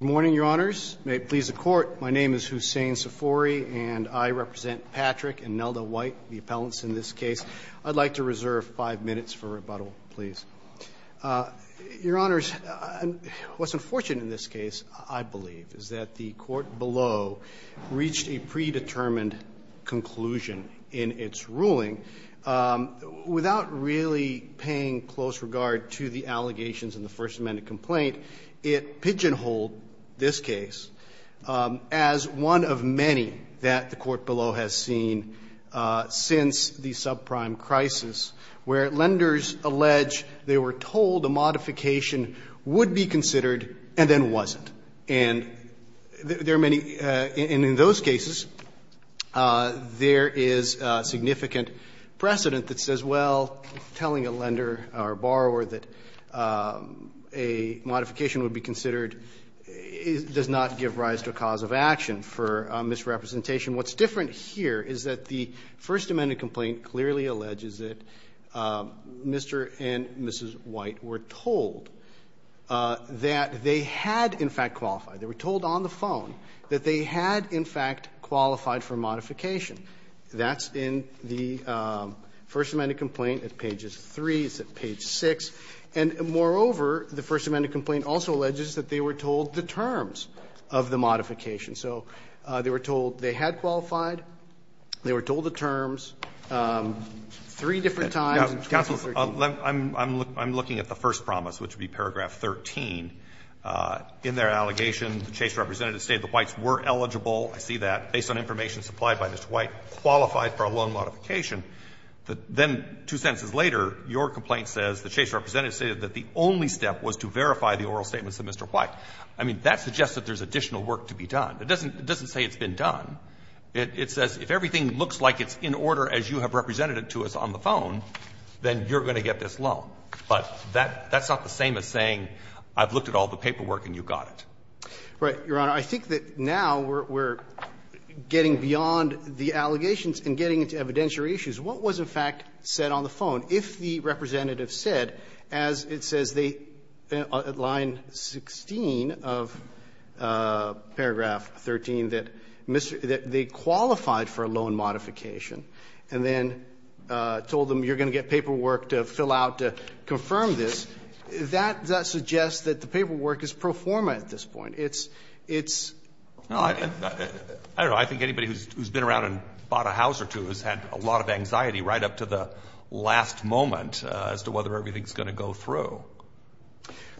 Good morning, Your Honors. May it please the Court, my name is Hussain Safori, and I represent Patrick and Nelda White, the appellants in this case. I'd like to reserve five minutes for rebuttal, please. Your Honors, what's unfortunate in this case, I believe, is that the Court below reached a predetermined conclusion in its ruling without really paying close regard to the allegations in the First Amendment complaint. It pigeonholed this case as one of many that the Court below has seen since the subprime crisis, where lenders allege they were told a modification would be considered and then wasn't. And there are many — and in those cases, there is significant precedent that says, well, telling a lender or a borrower that a modification would be considered does not give rise to a cause of action for misrepresentation. What's different here is that the First Amendment complainant, Mr. and Mrs. White, were told that they had, in fact, qualified. They were told on the phone that they had, in fact, qualified for a modification. That's in the First Amendment complaint at pages 3, it's at page 6. And moreover, the First Amendment complaint also alleges that they were told the terms of the modification. So they were told they had qualified, they were told the terms three different times in terms of 13. I'm looking at the first promise, which would be paragraph 13. In their allegation, the Chase representative stated the Whites were eligible, I see that, based on information supplied by Mr. White, qualified for a loan modification. Then two sentences later, your complaint says the Chase representative stated that the only step was to verify the oral statements of Mr. White. I mean, that suggests that there's additional work to be done. It doesn't say it's been done. It says if everything looks like it's in order as you have represented it to us on the phone, then you're going to get this loan. But that's not the same as saying I've looked at all the paperwork and you got it. Right, Your Honor. I think that now we're getting beyond the allegations and getting into evidentiary issues. What was, in fact, said on the phone? If the representative said, as it says, they at line 16 of paragraph 13, that they qualified for a loan modification, and then told them you're going to get paperwork to fill out to confirm this, that suggests that the paperwork is pro forma at this point. It's, it's not. I don't know. I think anybody who's been around and bought a house or two has had a lot of anxiety right up to the last moment as to whether everything's going to go through.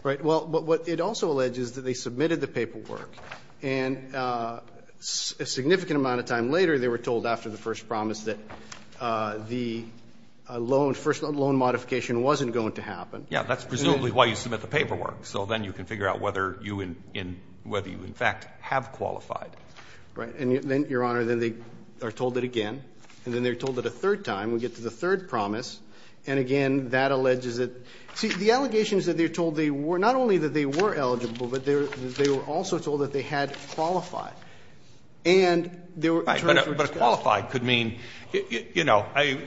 Right. Well, but what it also alleges that they submitted the paperwork and a significant amount of time later, they were told after the first promise that the loan, first loan modification wasn't going to happen. Yeah, that's presumably why you submit the paperwork. So then you can figure out whether you in, whether you in fact have qualified. Right. And then, Your Honor, then they are told it again. And then they're told it a third time. We get to the third promise. And again, that alleges that, see, the allegation is that they're told they were, not only that they were eligible, but they were, they were also told that they had qualified. And they were, But qualified could mean, you know, I,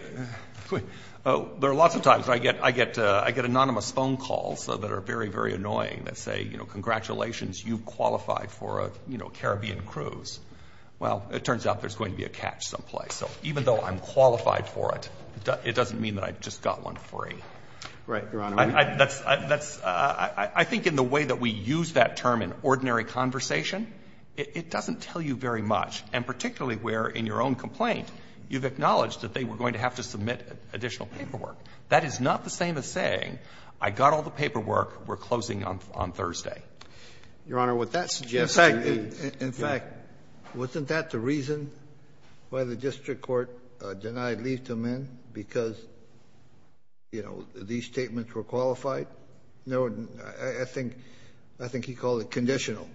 there are lots of times I get, I get, I get anonymous phone calls that are very, very annoying that say, you know, congratulations, you qualified for a, you know, Caribbean cruise. Well, it turns out there's going to be a catch someplace. So even though I'm qualified for it, it doesn't mean that I just got one free. Right, Your Honor. I, that's, that's, I think in the way that we use that term in ordinary conversation, it, it doesn't tell you very much. And particularly where in your own complaint, you've acknowledged that they were going to have to submit additional paperwork. That is not the same as saying, I got all the paperwork, we're closing on, on Thursday. Your Honor, what that suggests to me is, in fact, wasn't that the reason why the district court denied leave to amend, because, you know, these statements were qualified? No, I, I think, I think he called it conditional.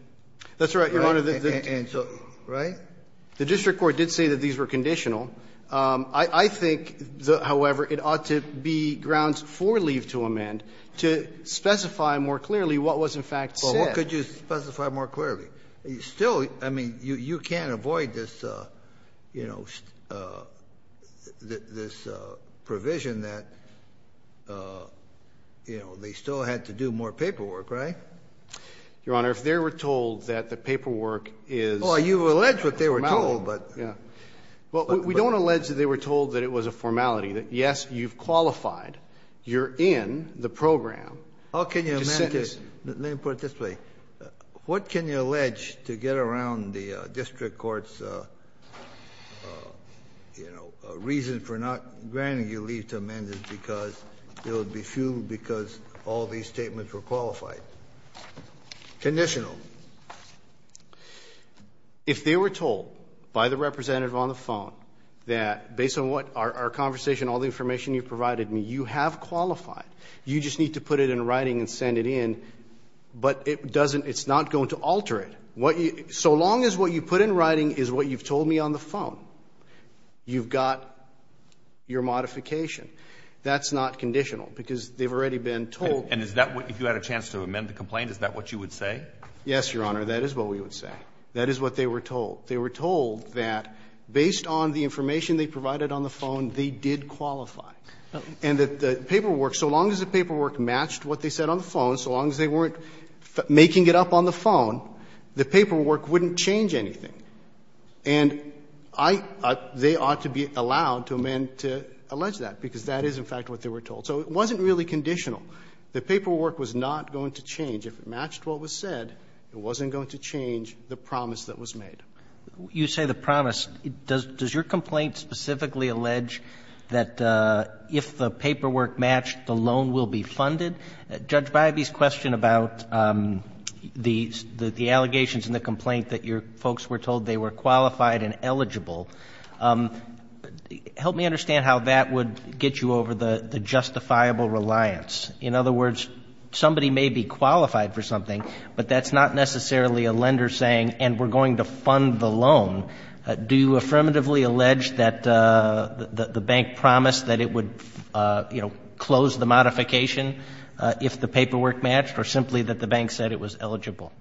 That's right, Your Honor. And so, right? The district court did say that these were conditional. I, I think, however, it ought to be grounds for leave to amend to specify more clearly what was in fact said. Well, what could you specify more clearly? Still, I mean, you, you can't avoid this, you know, this provision that, you know, they still had to do more paperwork, right? Your Honor, if they were told that the paperwork is... Oh, you've alleged what they were told, but... Yeah. Well, we don't allege that they were told that it was a formality, that yes, you've qualified, you're in the program. How can you amend it? Let me put it this way. What can you allege to get around the fact that, you know, a reason for not granting your leave to amend it because it would be fueled because all these statements were qualified? Conditional? If they were told by the representative on the phone that, based on what our, our conversation, all the information you provided me, you have qualified. You just need to put it in writing and send it in, but it doesn't, it's not going to alter it. What you, so long as what you put in writing is what you've told me on the phone, you've got your modification. That's not conditional because they've already been told... And is that what, if you had a chance to amend the complaint, is that what you would say? Yes, Your Honor, that is what we would say. That is what they were told. They were told that based on the information they provided on the phone, they did qualify. And that the paperwork, so long as the paperwork matched what they said on the phone, so long as they weren't making it up on the phone, the paperwork wouldn't change anything. And I, they ought to be allowed to amend to allege that, because that is, in fact, what they were told. So it wasn't really conditional. The paperwork was not going to change. If it matched what was said, it wasn't going to change the promise that was made. You say the promise. Does your complaint specifically allege that if the paperwork matched, the loan will be funded? Judge Bybee's question about the allegations in the complaint that your folks were told they were qualified and eligible, help me understand how that would get you over the justifiable reliance. In other words, somebody may be qualified for something, but that's not necessarily a lender saying, and we're going to fund the loan. Do you affirmatively allege that the bank promised that it would close the modification if the paperwork matched, or simply that the bank said it was eligible,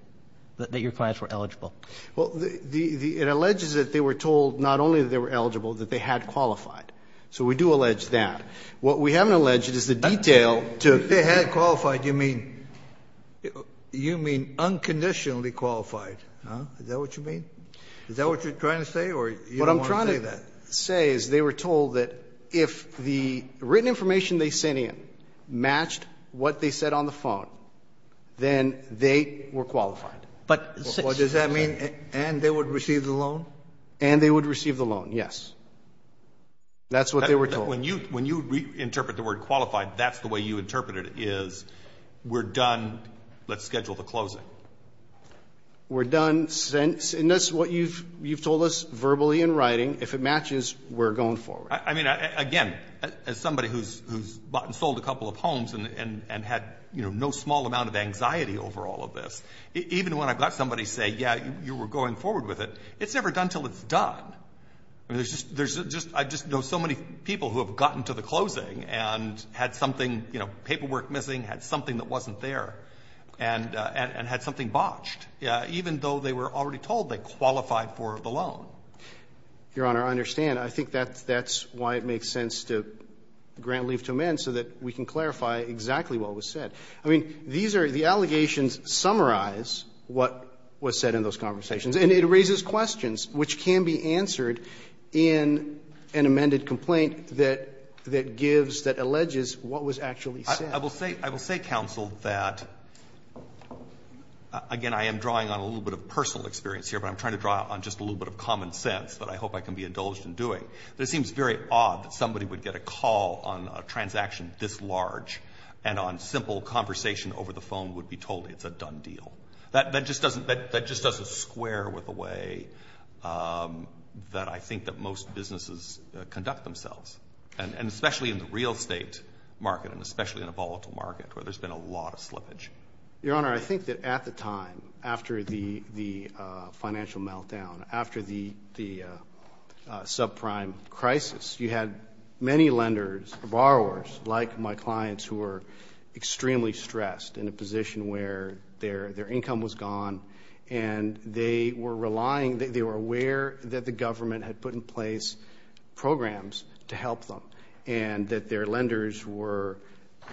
that your clients were eligible? Well, the, it alleges that they were told not only that they were eligible, that they had qualified. So we do allege that. What we haven't alleged is the detail to the loan. If they had qualified, you mean, you mean unconditionally qualified? Is that what you mean? Is that what you're trying to say, or you don't want to say that? What I'm trying to say is they were told that if the written information they sent in matched what they said on the phone, then they were qualified. But does that mean, and they would receive the loan? And they would receive the loan. Yes. That's what they were told. When you, when you interpret the word qualified, that's the way you interpret it is, we're done. Let's schedule the closing. We're done. And that's what you've, you've told us verbally in writing. If it matches, we're going forward. I mean, again, as somebody who's, who's bought and sold a couple of homes and, and, and had, you know, no small amount of anxiety over all of this, even when I've got somebody say, yeah, you were going forward with it, it's never done until it's done. I mean, there's just, there's just, I just know so many people who have gotten to the closing and had something, you know, paperwork missing, had something that wasn't there and, and, and had something botched, even though they were already told they qualified for the loan. Your Honor, I understand. I think that's, that's why it makes sense to grant leave to amend so that we can clarify exactly what was said. I mean, these are the allegations summarize what was said in those conversations and it raises questions which can be answered in an amended complaint that, that gives, that alleges what was actually said. I will say, I will say counsel that, again, I am drawing on a little bit of personal experience here, but I'm trying to draw on just a little bit of common sense that I hope I can be indulged in doing. But it seems very odd that somebody would get a call on a transaction this large and on simple conversation over the phone would be told it's a done deal. That, that just doesn't, that, that just doesn't square with the way that I think that most businesses conduct themselves and, and especially in the real estate market and especially in a volatile market where there's been a lot of slippage. Your Honor, I think that at the time, after the, the financial meltdown, after the, the subprime crisis, you had many lenders, borrowers, like my clients who were extremely stressed in a position where their, their income was gone and they were relying, they were aware that the government had put in place programs to help them and that their lenders were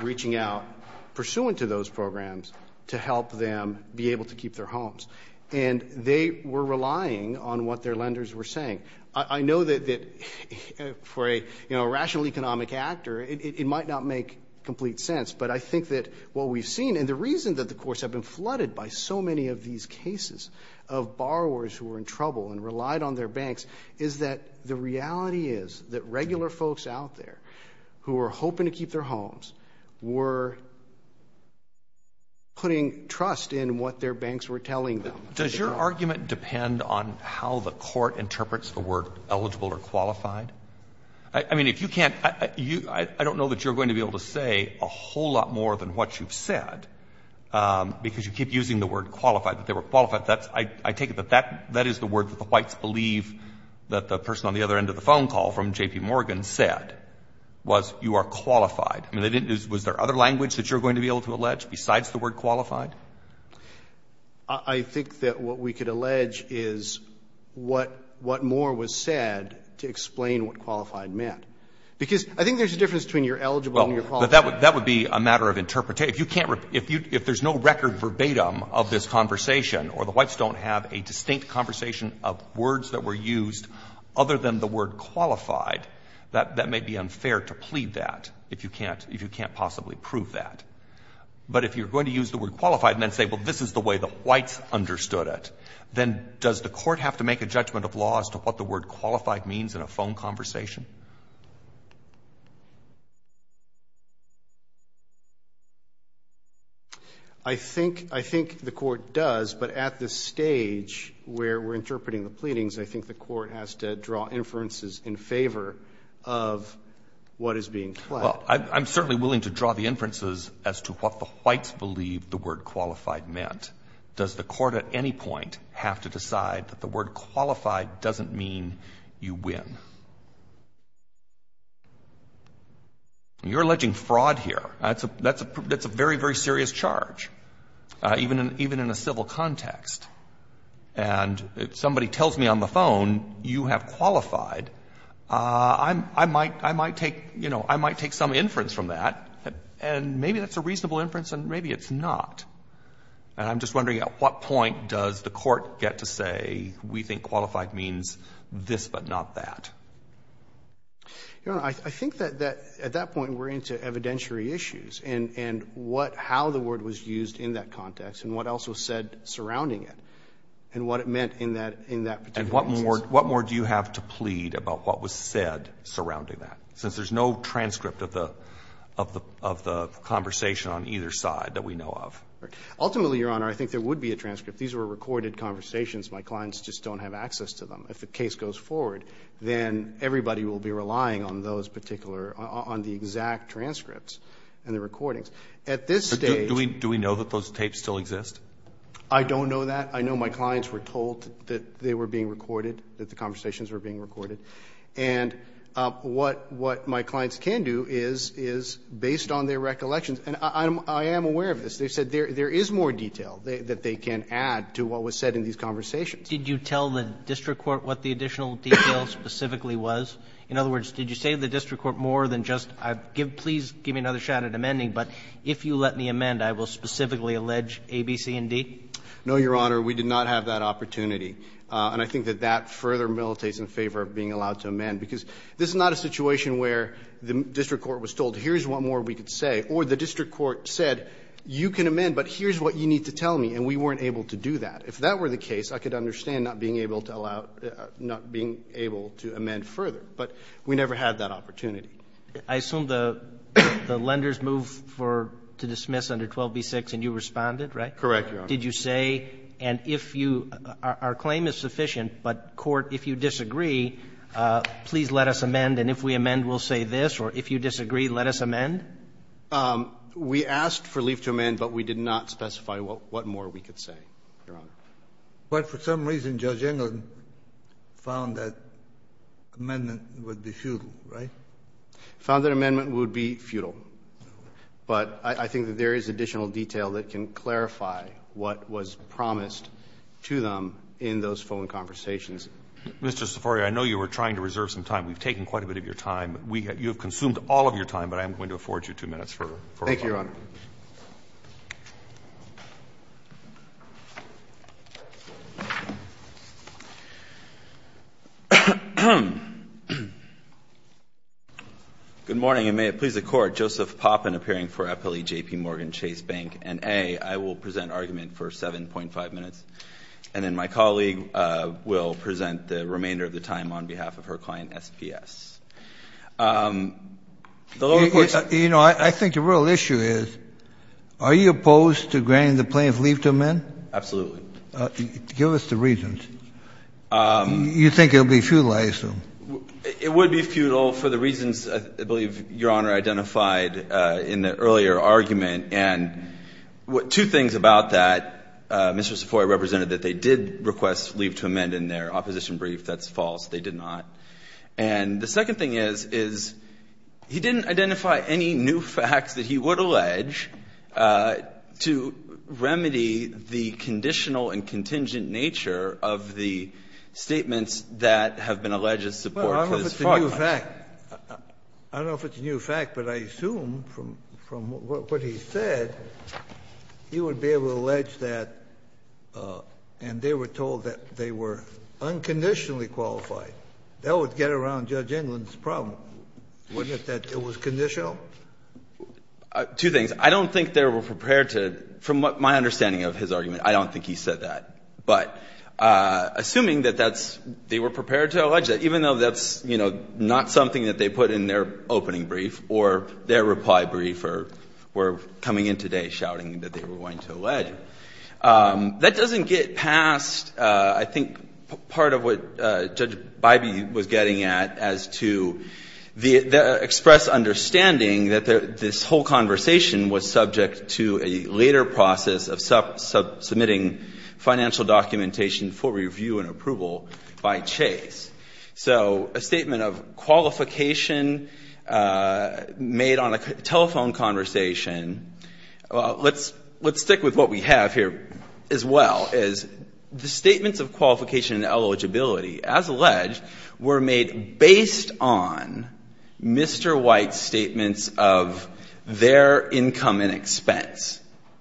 reaching out pursuant to those programs to help them be able to keep their homes. And they were relying on what their lenders were saying. I know that, that for a rational economic actor, it might not make complete sense, but I think that what we've seen and the reason that the courts have been flooded by so many of these cases of borrowers who were in trouble and relied on their lenders, the reality is that regular folks out there who are hoping to keep their homes were putting trust in what their banks were telling them. Does your argument depend on how the court interprets the word eligible or qualified? I mean, if you can't, you, I don't know that you're going to be able to say a whole lot more than what you've said, because you keep using the word qualified, that they were qualified. That's, I take it that that, that is the word that the whites believe that the person on the other end of the phone call from J.P. Morgan said was, you are qualified. I mean, they didn't, was there other language that you're going to be able to allege besides the word qualified? I think that what we could allege is what, what more was said to explain what qualified meant, because I think there's a difference between you're eligible and you're qualified. That would, that would be a matter of interpretation. If you can't, if you, if there's no record verbatim of this conversation or the whites don't have a distinct conversation of words that were used other than the word qualified, that, that may be unfair to plead that, if you can't, if you can't possibly prove that. But if you're going to use the word qualified and then say, well, this is the way the whites understood it, then does the court have to make a judgment of law as to what the word qualified means in a phone conversation? I think, I think the Court does, but at this stage where we're interpreting the pleadings, I think the Court has to draw inferences in favor of what is being pled. Well, I'm certainly willing to draw the inferences as to what the whites believed the word qualified meant. Does the Court at any point have to decide that the word qualified doesn't mean you win? You're alleging fraud here. That's a, that's a, that's a very, very serious charge, even in, even in a civil context. And if somebody tells me on the phone, you have qualified, I'm, I might, I might take, you know, I might take some inference from that, and maybe that's a reasonable inference and maybe it's not. And I'm just wondering at what point does the Court get to say, we think qualified means this, but not that? Your Honor, I think that, that, at that point we're into evidentiary issues and, and what, how the word was used in that context and what else was said surrounding it and what it meant in that, in that particular instance. And what more, what more do you have to plead about what was said surrounding that, since there's no transcript of the, of the, of the conversation on either side that we know of? Ultimately, Your Honor, I think there would be a transcript. These were recorded conversations. My clients just don't have access to them. If the case goes forward, then everybody will be relying on those particular, on the exact transcripts and the recordings. At this stage Do we, do we know that those tapes still exist? I don't know that. I know my clients were told that they were being recorded, that the conversations were being recorded. And what, what my clients can do is, is based on their recollections, and I'm, I am aware of this, they said there, there is more detail that they can add to what was said in these conversations. Did you tell the district court what the additional detail specifically was? In other words, did you say to the district court more than just, please give me another shot at amending, but if you let me amend, I will specifically allege A, B, C, and D? No, Your Honor. We did not have that opportunity. And I think that that further militates in favor of being allowed to amend, because this is not a situation where the district court was told, here's what more we could say, or the district court said, you can amend, but here's what you need to tell me, and we weren't able to do that. If that were the case, I could understand not being able to allow, not being able to amend further, but we never had that opportunity. I assume the, the lenders moved for, to dismiss under 12b-6, and you responded, right? Correct, Your Honor. Did you say, and if you, our, our claim is sufficient, but court, if you disagree, please let us amend, and if we amend, we'll say this, or if you disagree, let us amend? We asked for leave to amend, but we did not specify what, what more we could say, Your Honor. But for some reason, Judge Englund found that amendment would be futile, right? Found that amendment would be futile, but I, I think that there is additional detail that can clarify what was promised to them in those phone conversations. Mr. Seforia, I know you were trying to reserve some time. We've taken quite a bit of your time. We have, you have consumed all of your time, but I am going to afford you two minutes for, for. Thank you, Your Honor. Good morning, and may it please the Court. Joseph Poppin, appearing for Appellee J.P. Morgan Chase Bank, and A, I will present argument for 7.5 minutes, and then my colleague will present the remainder of the time on behalf of her client, SPS. The lower court. You know, I, I think the real issue is, are you opposed to granting the plaintiff leave to amend? Absolutely. Give us the reasons. You think it would be futile, I assume. It would be futile for the reasons, I believe, Your Honor identified in the earlier argument, and two things about that. Mr. Seforia represented that they did request leave to amend in their opposition brief. That's false. They did not. And the second thing is, is he didn't identify any new facts that he would allege to remedy the conditional and contingent nature of the statements that have been alleged to support his fault. Well, I don't know if it's a new fact. I don't know if it's a new fact, but I assume from what he said, he would be able to allege that, and they were told that they were unconditionally qualified. That would get around Judge England's problem, wouldn't it, that it was conditional? Two things. I don't think they were prepared to, from my understanding of his argument, I don't think he said that. But assuming that that's they were prepared to allege that, even though that's, you know, not something that they put in their opening brief or their reply brief or were coming in today shouting that they were going to allege, that doesn't get past, I think, part of what Judge Bybee was getting at as to the expressed understanding that this whole conversation was subject to a later process of submitting financial documentation for review and approval by Chase. So a statement of qualification made on a telephone conversation. Let's stick with what we have here as well, is the statements of qualification and eligibility, as alleged, were made based on Mr. White's statements of their income and expense.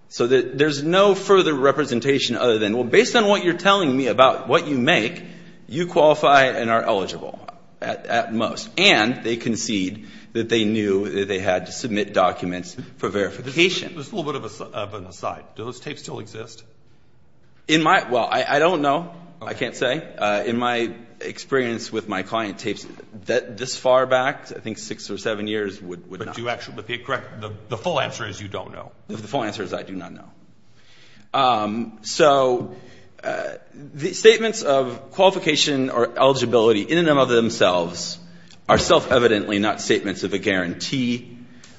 So there's no further representation other than, well, based on what you're telling me about what you make, you qualify and are eligible at most. And they concede that they knew that they had to submit documents for verification. Just a little bit of an aside. Do those tapes still exist? In my, well, I don't know. I can't say. In my experience with my client tapes, this far back, I think six or seven years, would not. But the full answer is you don't know. The full answer is I do not know. So the statements of qualification or eligibility in and of themselves are self-evidently not statements of a guarantee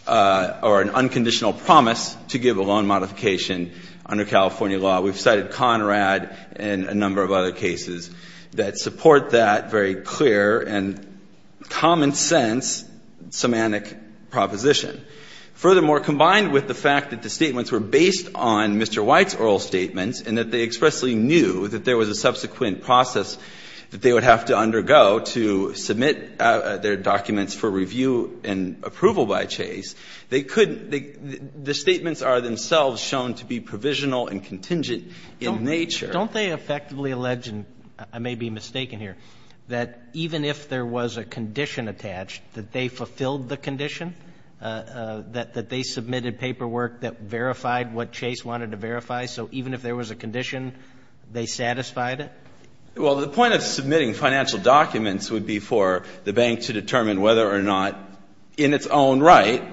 or an unconditional promise to give a loan modification under California law. We've cited Conrad and a number of other cases that support that very clear and common sense semantic proposition. Furthermore, combined with the fact that the statements were based on Mr. White's oral statements and that they expressly knew that there was a subsequent process that they would have to undergo to submit their documents for review and approval by Chase, they couldn't, the statements are themselves shown to be provisional and contingent in nature. Don't they effectively allege, and I may be mistaken here, that even if there was a condition attached, that they fulfilled the condition, that they submitted paperwork that verified what Chase wanted to verify? So even if there was a condition, they satisfied it? Well, the point of submitting financial documents would be for the bank to determine whether or not, in its own right,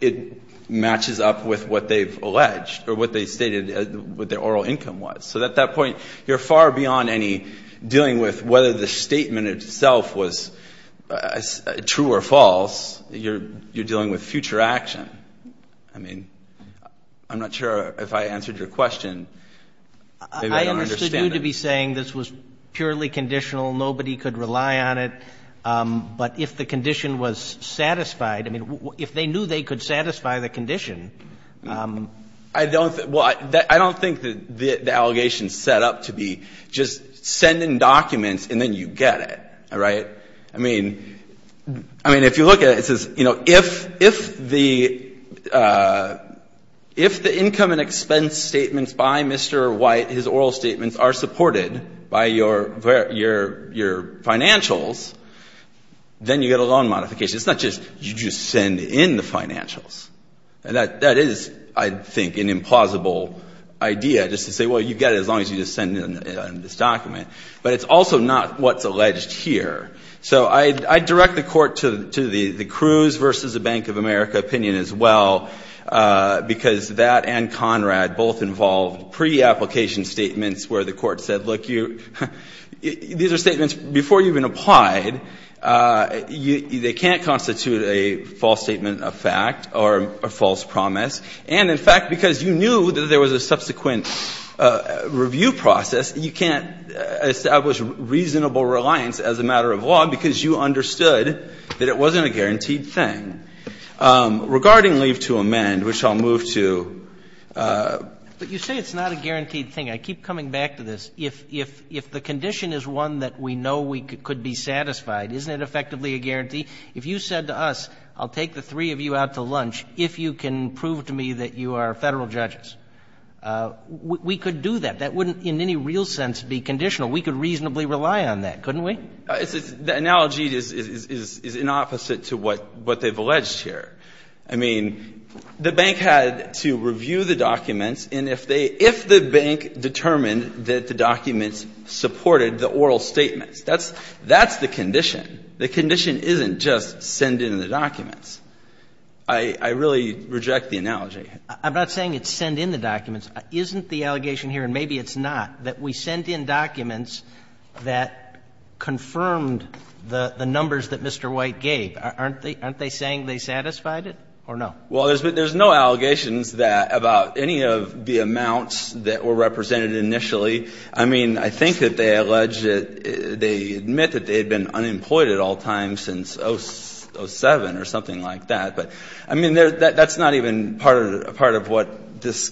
it matches up with what they've alleged or what they stated what their oral income was. So at that point, you're far beyond any dealing with whether the statement itself was true or false. You're dealing with future action. I mean, I'm not sure if I answered your question. I understood you to be saying this was purely conditional. Nobody could rely on it. But if the condition was satisfied, I mean, if they knew they could satisfy the condition I don't think, well, I don't think that the allegation is set up to be just send in documents and then you get it, all right? I mean, I mean, if you look at it, it says, you know, if the if the income and expense statements by Mr. White, his oral statements, are supported by your financials, then you get a loan modification. It's not just you just send in the financials. And that is, I think, an implausible idea just to say, well, you get it as long as you just send in this document. But it's also not what's alleged here. So I direct the court to the Cruz versus the Bank of America opinion as well, because that and Conrad both involved pre-application statements where the court said, look, you, these are statements before you've been applied. They can't constitute a false statement of fact or a false promise. And, in fact, because you knew that there was a subsequent review process, you can't establish reasonable reliance as a matter of law because you understood that it wasn't a guaranteed thing. Regarding leave to amend, which I'll move to. But you say it's not a guaranteed thing. I keep coming back to this. If the condition is one that we know we could be satisfied, isn't it effectively a guarantee? If you said to us, I'll take the three of you out to lunch if you can prove to me that you are Federal judges, we could do that. That wouldn't in any real sense be conditional. We could reasonably rely on that, couldn't we? I mean, the analogy is in opposite to what they've alleged here. I mean, the bank had to review the documents, and if they – if the bank determined that the documents supported the oral statements, that's the condition. The condition isn't just send in the documents. I really reject the analogy. I'm not saying it's send in the documents. Isn't the allegation here, and maybe it's not, that we sent in documents that confirmed the numbers that Mr. White gave? Aren't they saying they satisfied it or no? Well, there's no allegations that – about any of the amounts that were represented initially. I mean, I think that they allege that – they admit that they had been unemployed at all times since 07 or something like that, but I mean, that's not even part of what this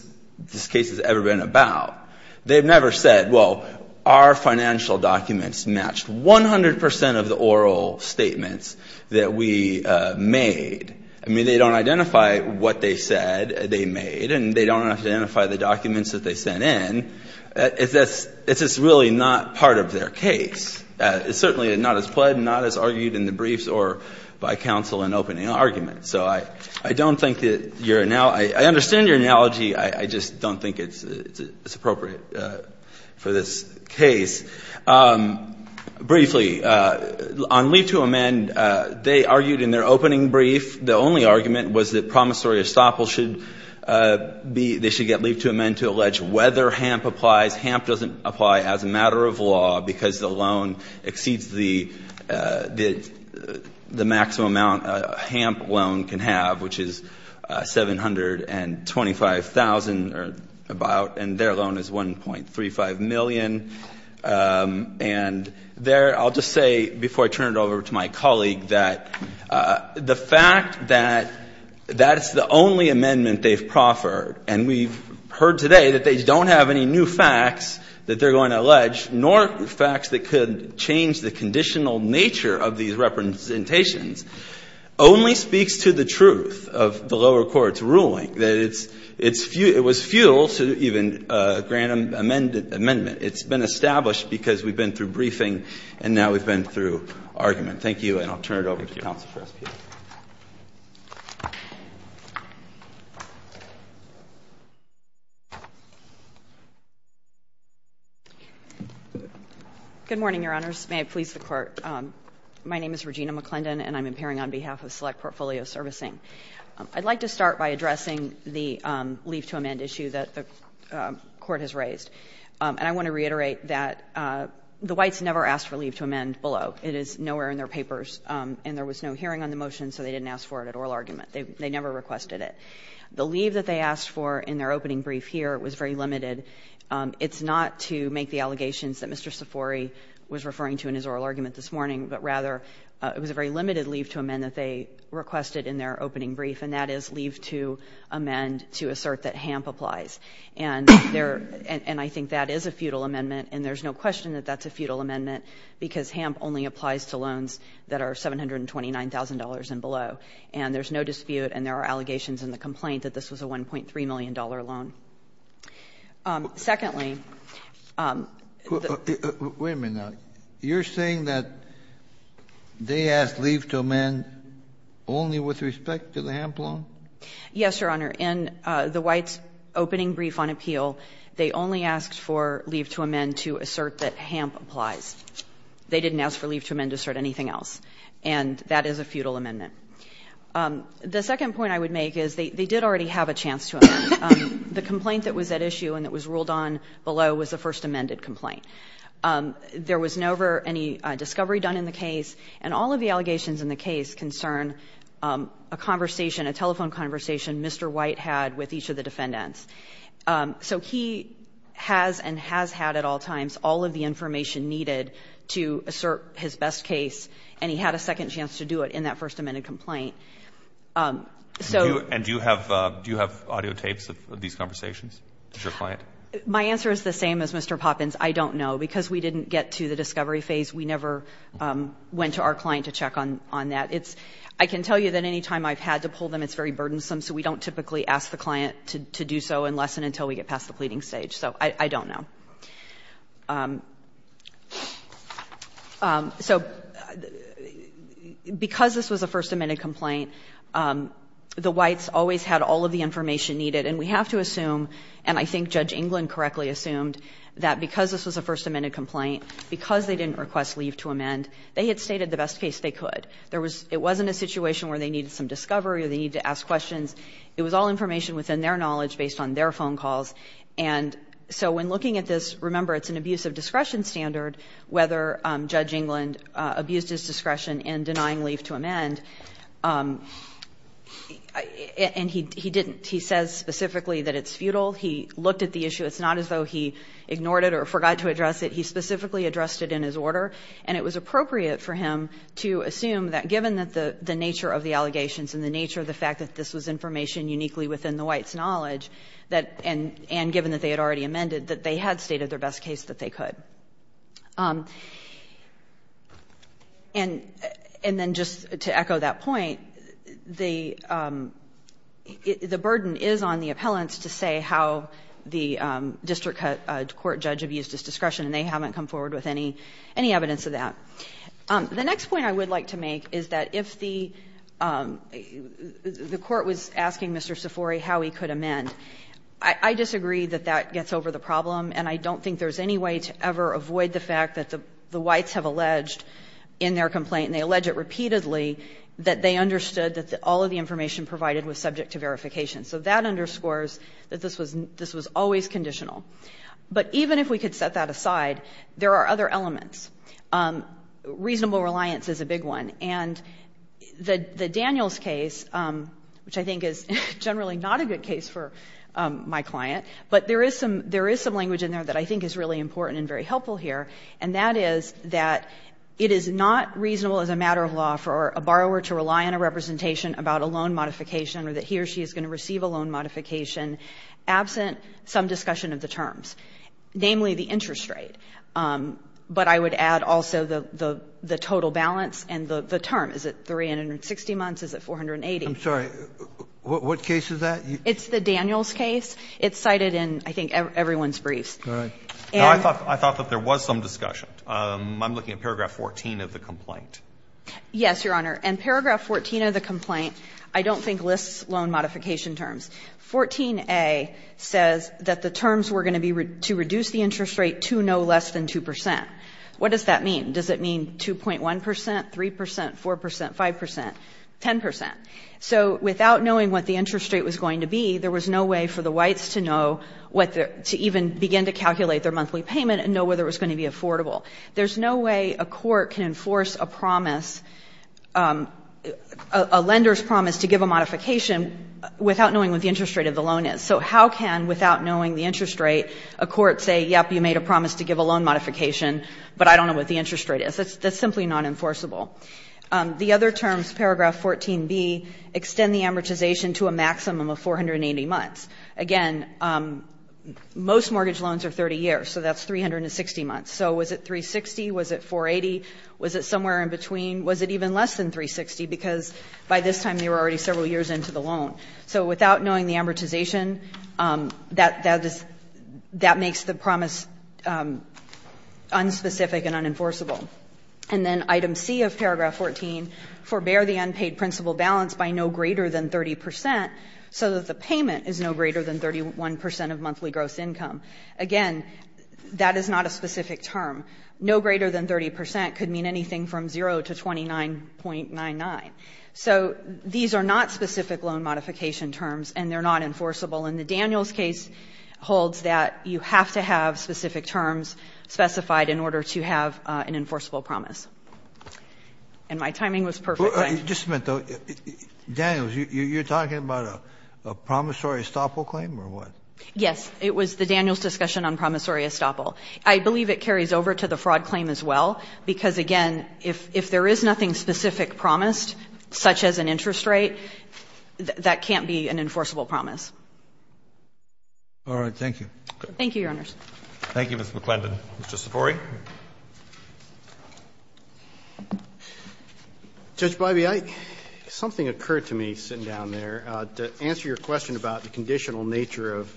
case has ever been about. They've never said, well, our financial documents matched 100 percent of the oral statements that we made. I mean, they don't identify what they said they made, and they don't identify the documents that they sent in. It's just really not part of their case. It's certainly not as pled, not as argued in the briefs or by counsel in opening arguments. So I don't think that your – I understand your analogy. I just don't think it's appropriate for this case. Briefly, on leave to amend, they argued in their opening brief the only argument was that promissory estoppel should be – they should get leave to amend to allege whether HAMP applies. HAMP doesn't apply as a matter of law because the loan exceeds the maximum amount a HAMP loan can have, which is $725,000 or about, and their loan is $1.35 million. And there – I'll just say, before I turn it over to my colleague, that the fact that that's the only amendment they've proffered, and we've heard today that they don't have any new facts that they're going to allege, nor facts that could change the conditional nature of these representations, only speaks to the truth of the lower court's ruling, that it's – it was futile to even grant an amendment. It's been established because we've been through briefing and now we've been through argument. Thank you, and I'll turn it over to counsel for us here. McClendon. Good morning, Your Honors. May it please the Court. My name is Regina McClendon, and I'm appearing on behalf of Select Portfolio Servicing. I'd like to start by addressing the leave to amend issue that the Court has raised. And I want to reiterate that the Whites never asked for leave to amend below. It is nowhere in their papers, and there was no hearing on the motion, so they didn't ask for it at oral argument. They never requested it. The leave that they asked for in their opening brief here was very limited. It's not to make the allegations that Mr. Sifori was referring to in his oral argument this morning, but rather it was a very limited leave to amend that they requested in their opening brief, and that is leave to amend to assert that HAMP applies. And there – and I think that is a futile amendment, and there's no question that that's a futile amendment, because HAMP only applies to loans that are $729,000 and below. And there's no dispute, and there are allegations in the complaint that this was a $1.3 million loan. Secondly, the – Wait a minute now. You're saying that they asked leave to amend only with respect to the HAMP loan? Yes, Your Honor. In the Whites' opening brief on appeal, they only asked for leave to amend to assert that HAMP applies. They didn't ask for leave to amend to assert anything else, and that is a futile amendment. The second point I would make is they did already have a chance to amend. The complaint that was at issue and that was ruled on below was the first amended complaint. There was never any discovery done in the case, and all of the allegations in the case concern a conversation, a telephone conversation Mr. White had with each of the defendants. So he has and has had at all times all of the information needed to assert his best case, and he had a second chance to do it in that first amended complaint. So – And do you have audio tapes of these conversations with your client? My answer is the same as Mr. Poppins. I don't know. Because we didn't get to the discovery phase, we never went to our client to check on that. It's – I can tell you that any time I've had to pull them, it's very burdensome, so we don't typically ask the client to do so unless and until we get past the pleading stage. So I don't know. So because this was a first amended complaint, the Whites always had all of the information needed, and we have to assume, and I think Judge England correctly assumed, that because this was a first amended complaint, because they didn't request leave to amend, they had stated the best case they could. It wasn't a situation where they needed some discovery or they needed to ask questions. It was all information within their knowledge based on their phone calls. And so when looking at this, remember, it's an abuse of discretion standard, whether Judge England abused his discretion in denying leave to amend. And he didn't. He says specifically that it's futile. He looked at the issue. It's not as though he ignored it or forgot to address it. He specifically addressed it in his order. And it was appropriate for him to assume that given the nature of the allegations and the nature of the fact that this was information uniquely within the Whites' knowledge, and given that they had already amended, that they had stated their best case that they could. And then just to echo that point, the burden is on the appellants to say how the district court judge abused his discretion, and they haven't come forward with any evidence of that. The next point I would like to make is that if the Court was asking Mr. Sifori how he could amend, I disagree that that gets over the problem, and I don't think there's any way to ever avoid the fact that the Whites have alleged in their complaint and they allege it repeatedly, that they understood that all of the information provided was subject to verification. So that underscores that this was always conditional. But even if we could set that aside, there are other elements. Reasonable reliance is a big one. And the Daniels case, which I think is generally not a good case for my client, but there is some language in there that I think is really important and very helpful here, and that is that it is not reasonable as a matter of law for a borrower to rely on a representation about a loan modification or that he or she is going to receive a loan modification absent some discussion of the terms, namely the interest rate. But I would add also the total balance and the term. Is it 360 months? Is it 480? Kennedy, I'm sorry. What case is that? It's the Daniels case. It's cited in, I think, everyone's briefs. And I thought that there was some discussion. I'm looking at paragraph 14 of the complaint. Yes, Your Honor. In paragraph 14 of the complaint, I don't think lists loan modification terms. 14a says that the terms were going to be to reduce the interest rate to no less than 2 percent. What does that mean? Does it mean 2.1 percent, 3 percent, 4 percent, 5 percent, 10 percent? So without knowing what the interest rate was going to be, there was no way for the whites to know what the to even begin to calculate their monthly payment and know whether it was going to be affordable. There's no way a court can enforce a promise, a lender's promise to give a modification without knowing what the interest rate of the loan is. So how can, without knowing the interest rate, a court say, yes, you made a promise to give a loan modification, but I don't know what the interest rate is? That's simply not enforceable. The other terms, paragraph 14b, extend the amortization to a maximum of 480 months. Again, most mortgage loans are 30 years, so that's 360 months. So was it 360? Was it 480? Was it somewhere in between? Was it even less than 360? Because by this time, they were already several years into the loan. So without knowing the amortization, that makes the promise unspecific and unenforceable. And then item C of paragraph 14, forbear the unpaid principal balance by no greater than 30 percent so that the payment is no greater than 31 percent of monthly gross income. Again, that is not a specific term. No greater than 30 percent could mean anything from 0 to 29.99. So these are not specific loan modification terms, and they're not enforceable. And the Daniels case holds that you have to have specific terms specified in order to have an enforceable promise. And my timing was perfect. Just a minute, though. Daniels, you're talking about a promissory estoppel claim or what? Yes. It was the Daniels discussion on promissory estoppel. I believe it carries over to the fraud claim as well, because, again, if there is nothing specific promised, such as an interest rate, that can't be an enforceable promise. All right. Thank you. Thank you, Your Honors. Thank you, Ms. McClendon. Mr. Sifori. Judge Biby, something occurred to me sitting down there. To answer your question about the conditional nature of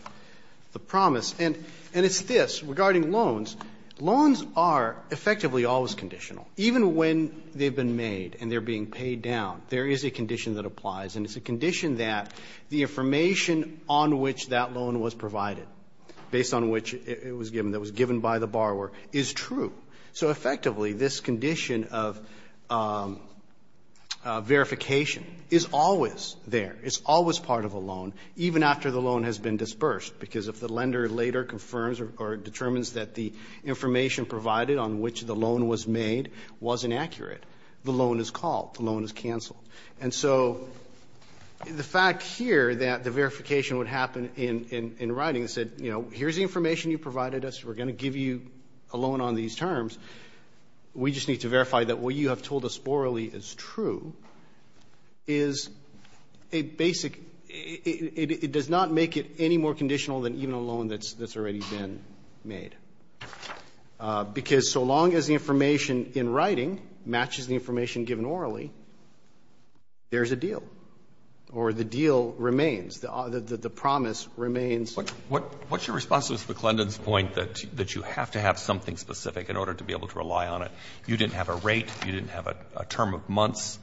the promise, and it's this. Regarding loans, loans are effectively always conditional. Even when they've been made and they're being paid down, there is a condition that applies, and it's a condition that the information on which that loan was provided, based on which it was given, that was given by the borrower, is true. So effectively, this condition of verification is always there. It's always part of a loan, even after the loan has been disbursed, because if the borrower determines that the information provided on which the loan was made was inaccurate, the loan is called. The loan is canceled. And so the fact here that the verification would happen in writing, said, you know, here's the information you provided us. We're going to give you a loan on these terms. We just need to verify that what you have told us borrowally is true, is a basic It does not make it any more conditional than even a loan that's already been made. Because so long as the information in writing matches the information given orally, there's a deal, or the deal remains, the promise remains. What's your response to Ms. McClendon's point that you have to have something specific in order to be able to rely on it? You didn't have a rate. You didn't have a term of months.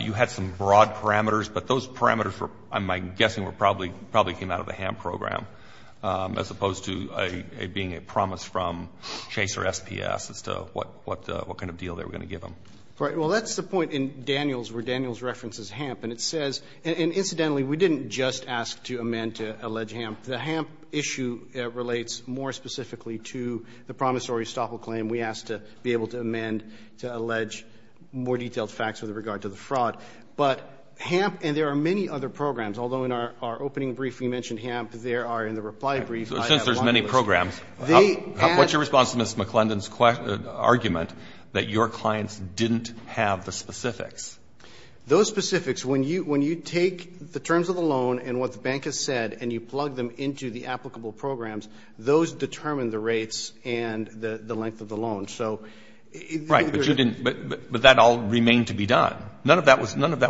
You had some broad parameters, but those parameters were, I'm guessing, were probably came out of the HAMP program, as opposed to being a promise from Chase or SPS as to what kind of deal they were going to give them. Well, that's the point in Daniels, where Daniels references HAMP, and it says, and incidentally, we didn't just ask to amend to allege HAMP. The HAMP issue relates more specifically to the promissory estoppel claim. And we asked to be able to amend to allege more detailed facts with regard to the fraud. But HAMP, and there are many other programs, although in our opening brief we mentioned HAMP, there are in the reply brief. Since there's many programs, what's your response to Ms. McClendon's argument that your clients didn't have the specifics? Those specifics, when you take the terms of the loan and what the bank has said, and you plug them into the applicable programs, those determine the rates and the cost of the loan. Right, but you didn't, but that all remained to be done. None of that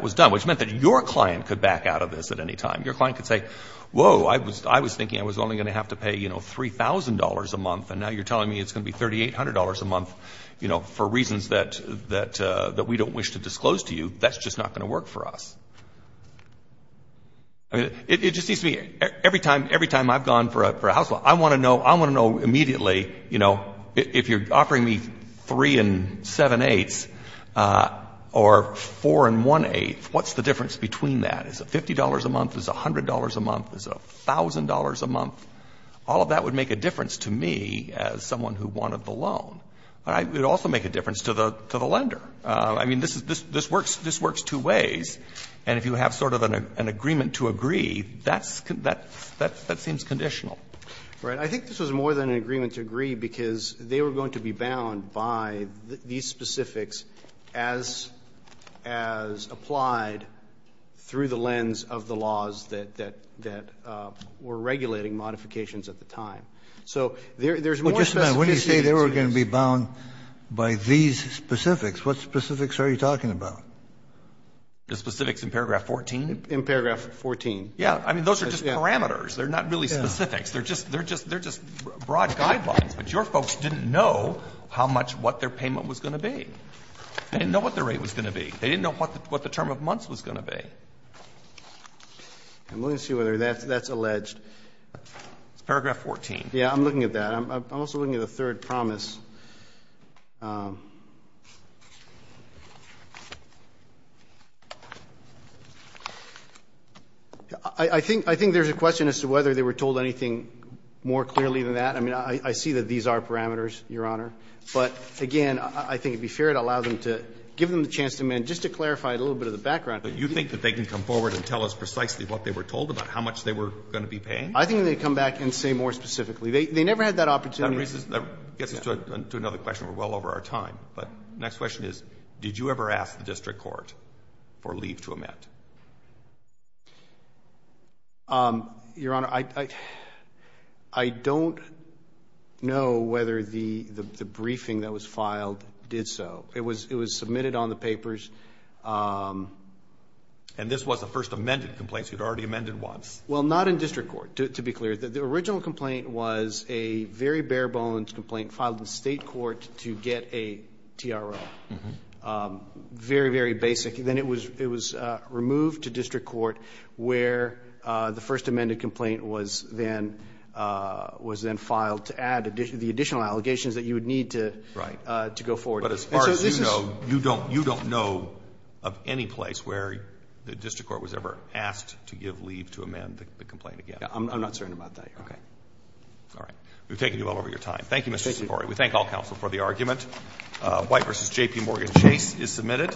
was done, which meant that your client could back out of this at any time. Your client could say, whoa, I was thinking I was only going to have to pay, you know, $3,000 a month, and now you're telling me it's going to be $3,800 a month, you know, for reasons that we don't wish to disclose to you. That's just not going to work for us. I mean, it just seems to me, every time I've gone for a house law, I want to know immediately, you know, if you're offering me 3-7-8 or 4-1-8, what's the difference between that? Is it $50 a month, is it $100 a month, is it $1,000 a month? All of that would make a difference to me as someone who wanted the loan. It would also make a difference to the lender. I mean, this works two ways, and if you have sort of an agreement to agree, that seems conditional. Right. I think this was more than an agreement to agree, because they were going to be bound by these specifics as applied through the lens of the laws that were regulating modifications at the time. So there's more specificity to this. Well, just a minute. When you say they were going to be bound by these specifics, what specifics are you talking about? The specifics in paragraph 14? In paragraph 14. Yeah. I mean, those are just parameters. They're not really specifics. They're just broad guidelines. But your folks didn't know how much what their payment was going to be. They didn't know what their rate was going to be. They didn't know what the term of months was going to be. I'm looking to see whether that's alleged. It's paragraph 14. Yeah. I'm looking at that. I'm also looking at the third promise. I think there's a question as to whether they were told anything more clearly than that. I mean, I see that these are parameters, Your Honor. But, again, I think it would be fair to allow them to give them the chance to amend. Just to clarify a little bit of the background. You think that they can come forward and tell us precisely what they were told about, how much they were going to be paying? I think they can come back and say more specifically. They never had that opportunity. That gets us to another question. We're well over our time. But the next question is, did you ever ask the district court for leave to amend? Your Honor, I don't know whether the briefing that was filed did so. It was submitted on the papers. And this was the first amended complaint, so you'd already amended once. Well, not in district court, to be clear. The original complaint was a very bare-bones complaint filed in the State court to get a TRO. Very, very basic. Then it was removed to district court where the first amended complaint was then filed to add the additional allegations that you would need to go forward. But as far as you know, you don't know of any place where the district court was ever asked to give leave to amend the complaint again. I'm not certain about that, Your Honor. Okay. All right. We've taken you well over your time. Thank you, Mr. Cipori. We thank all counsel for the argument. White v. J.P. Morgan Chase is submitted.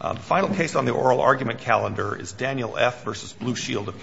The final case on the oral argument calendar is Daniel F. v. Blue Shield of California.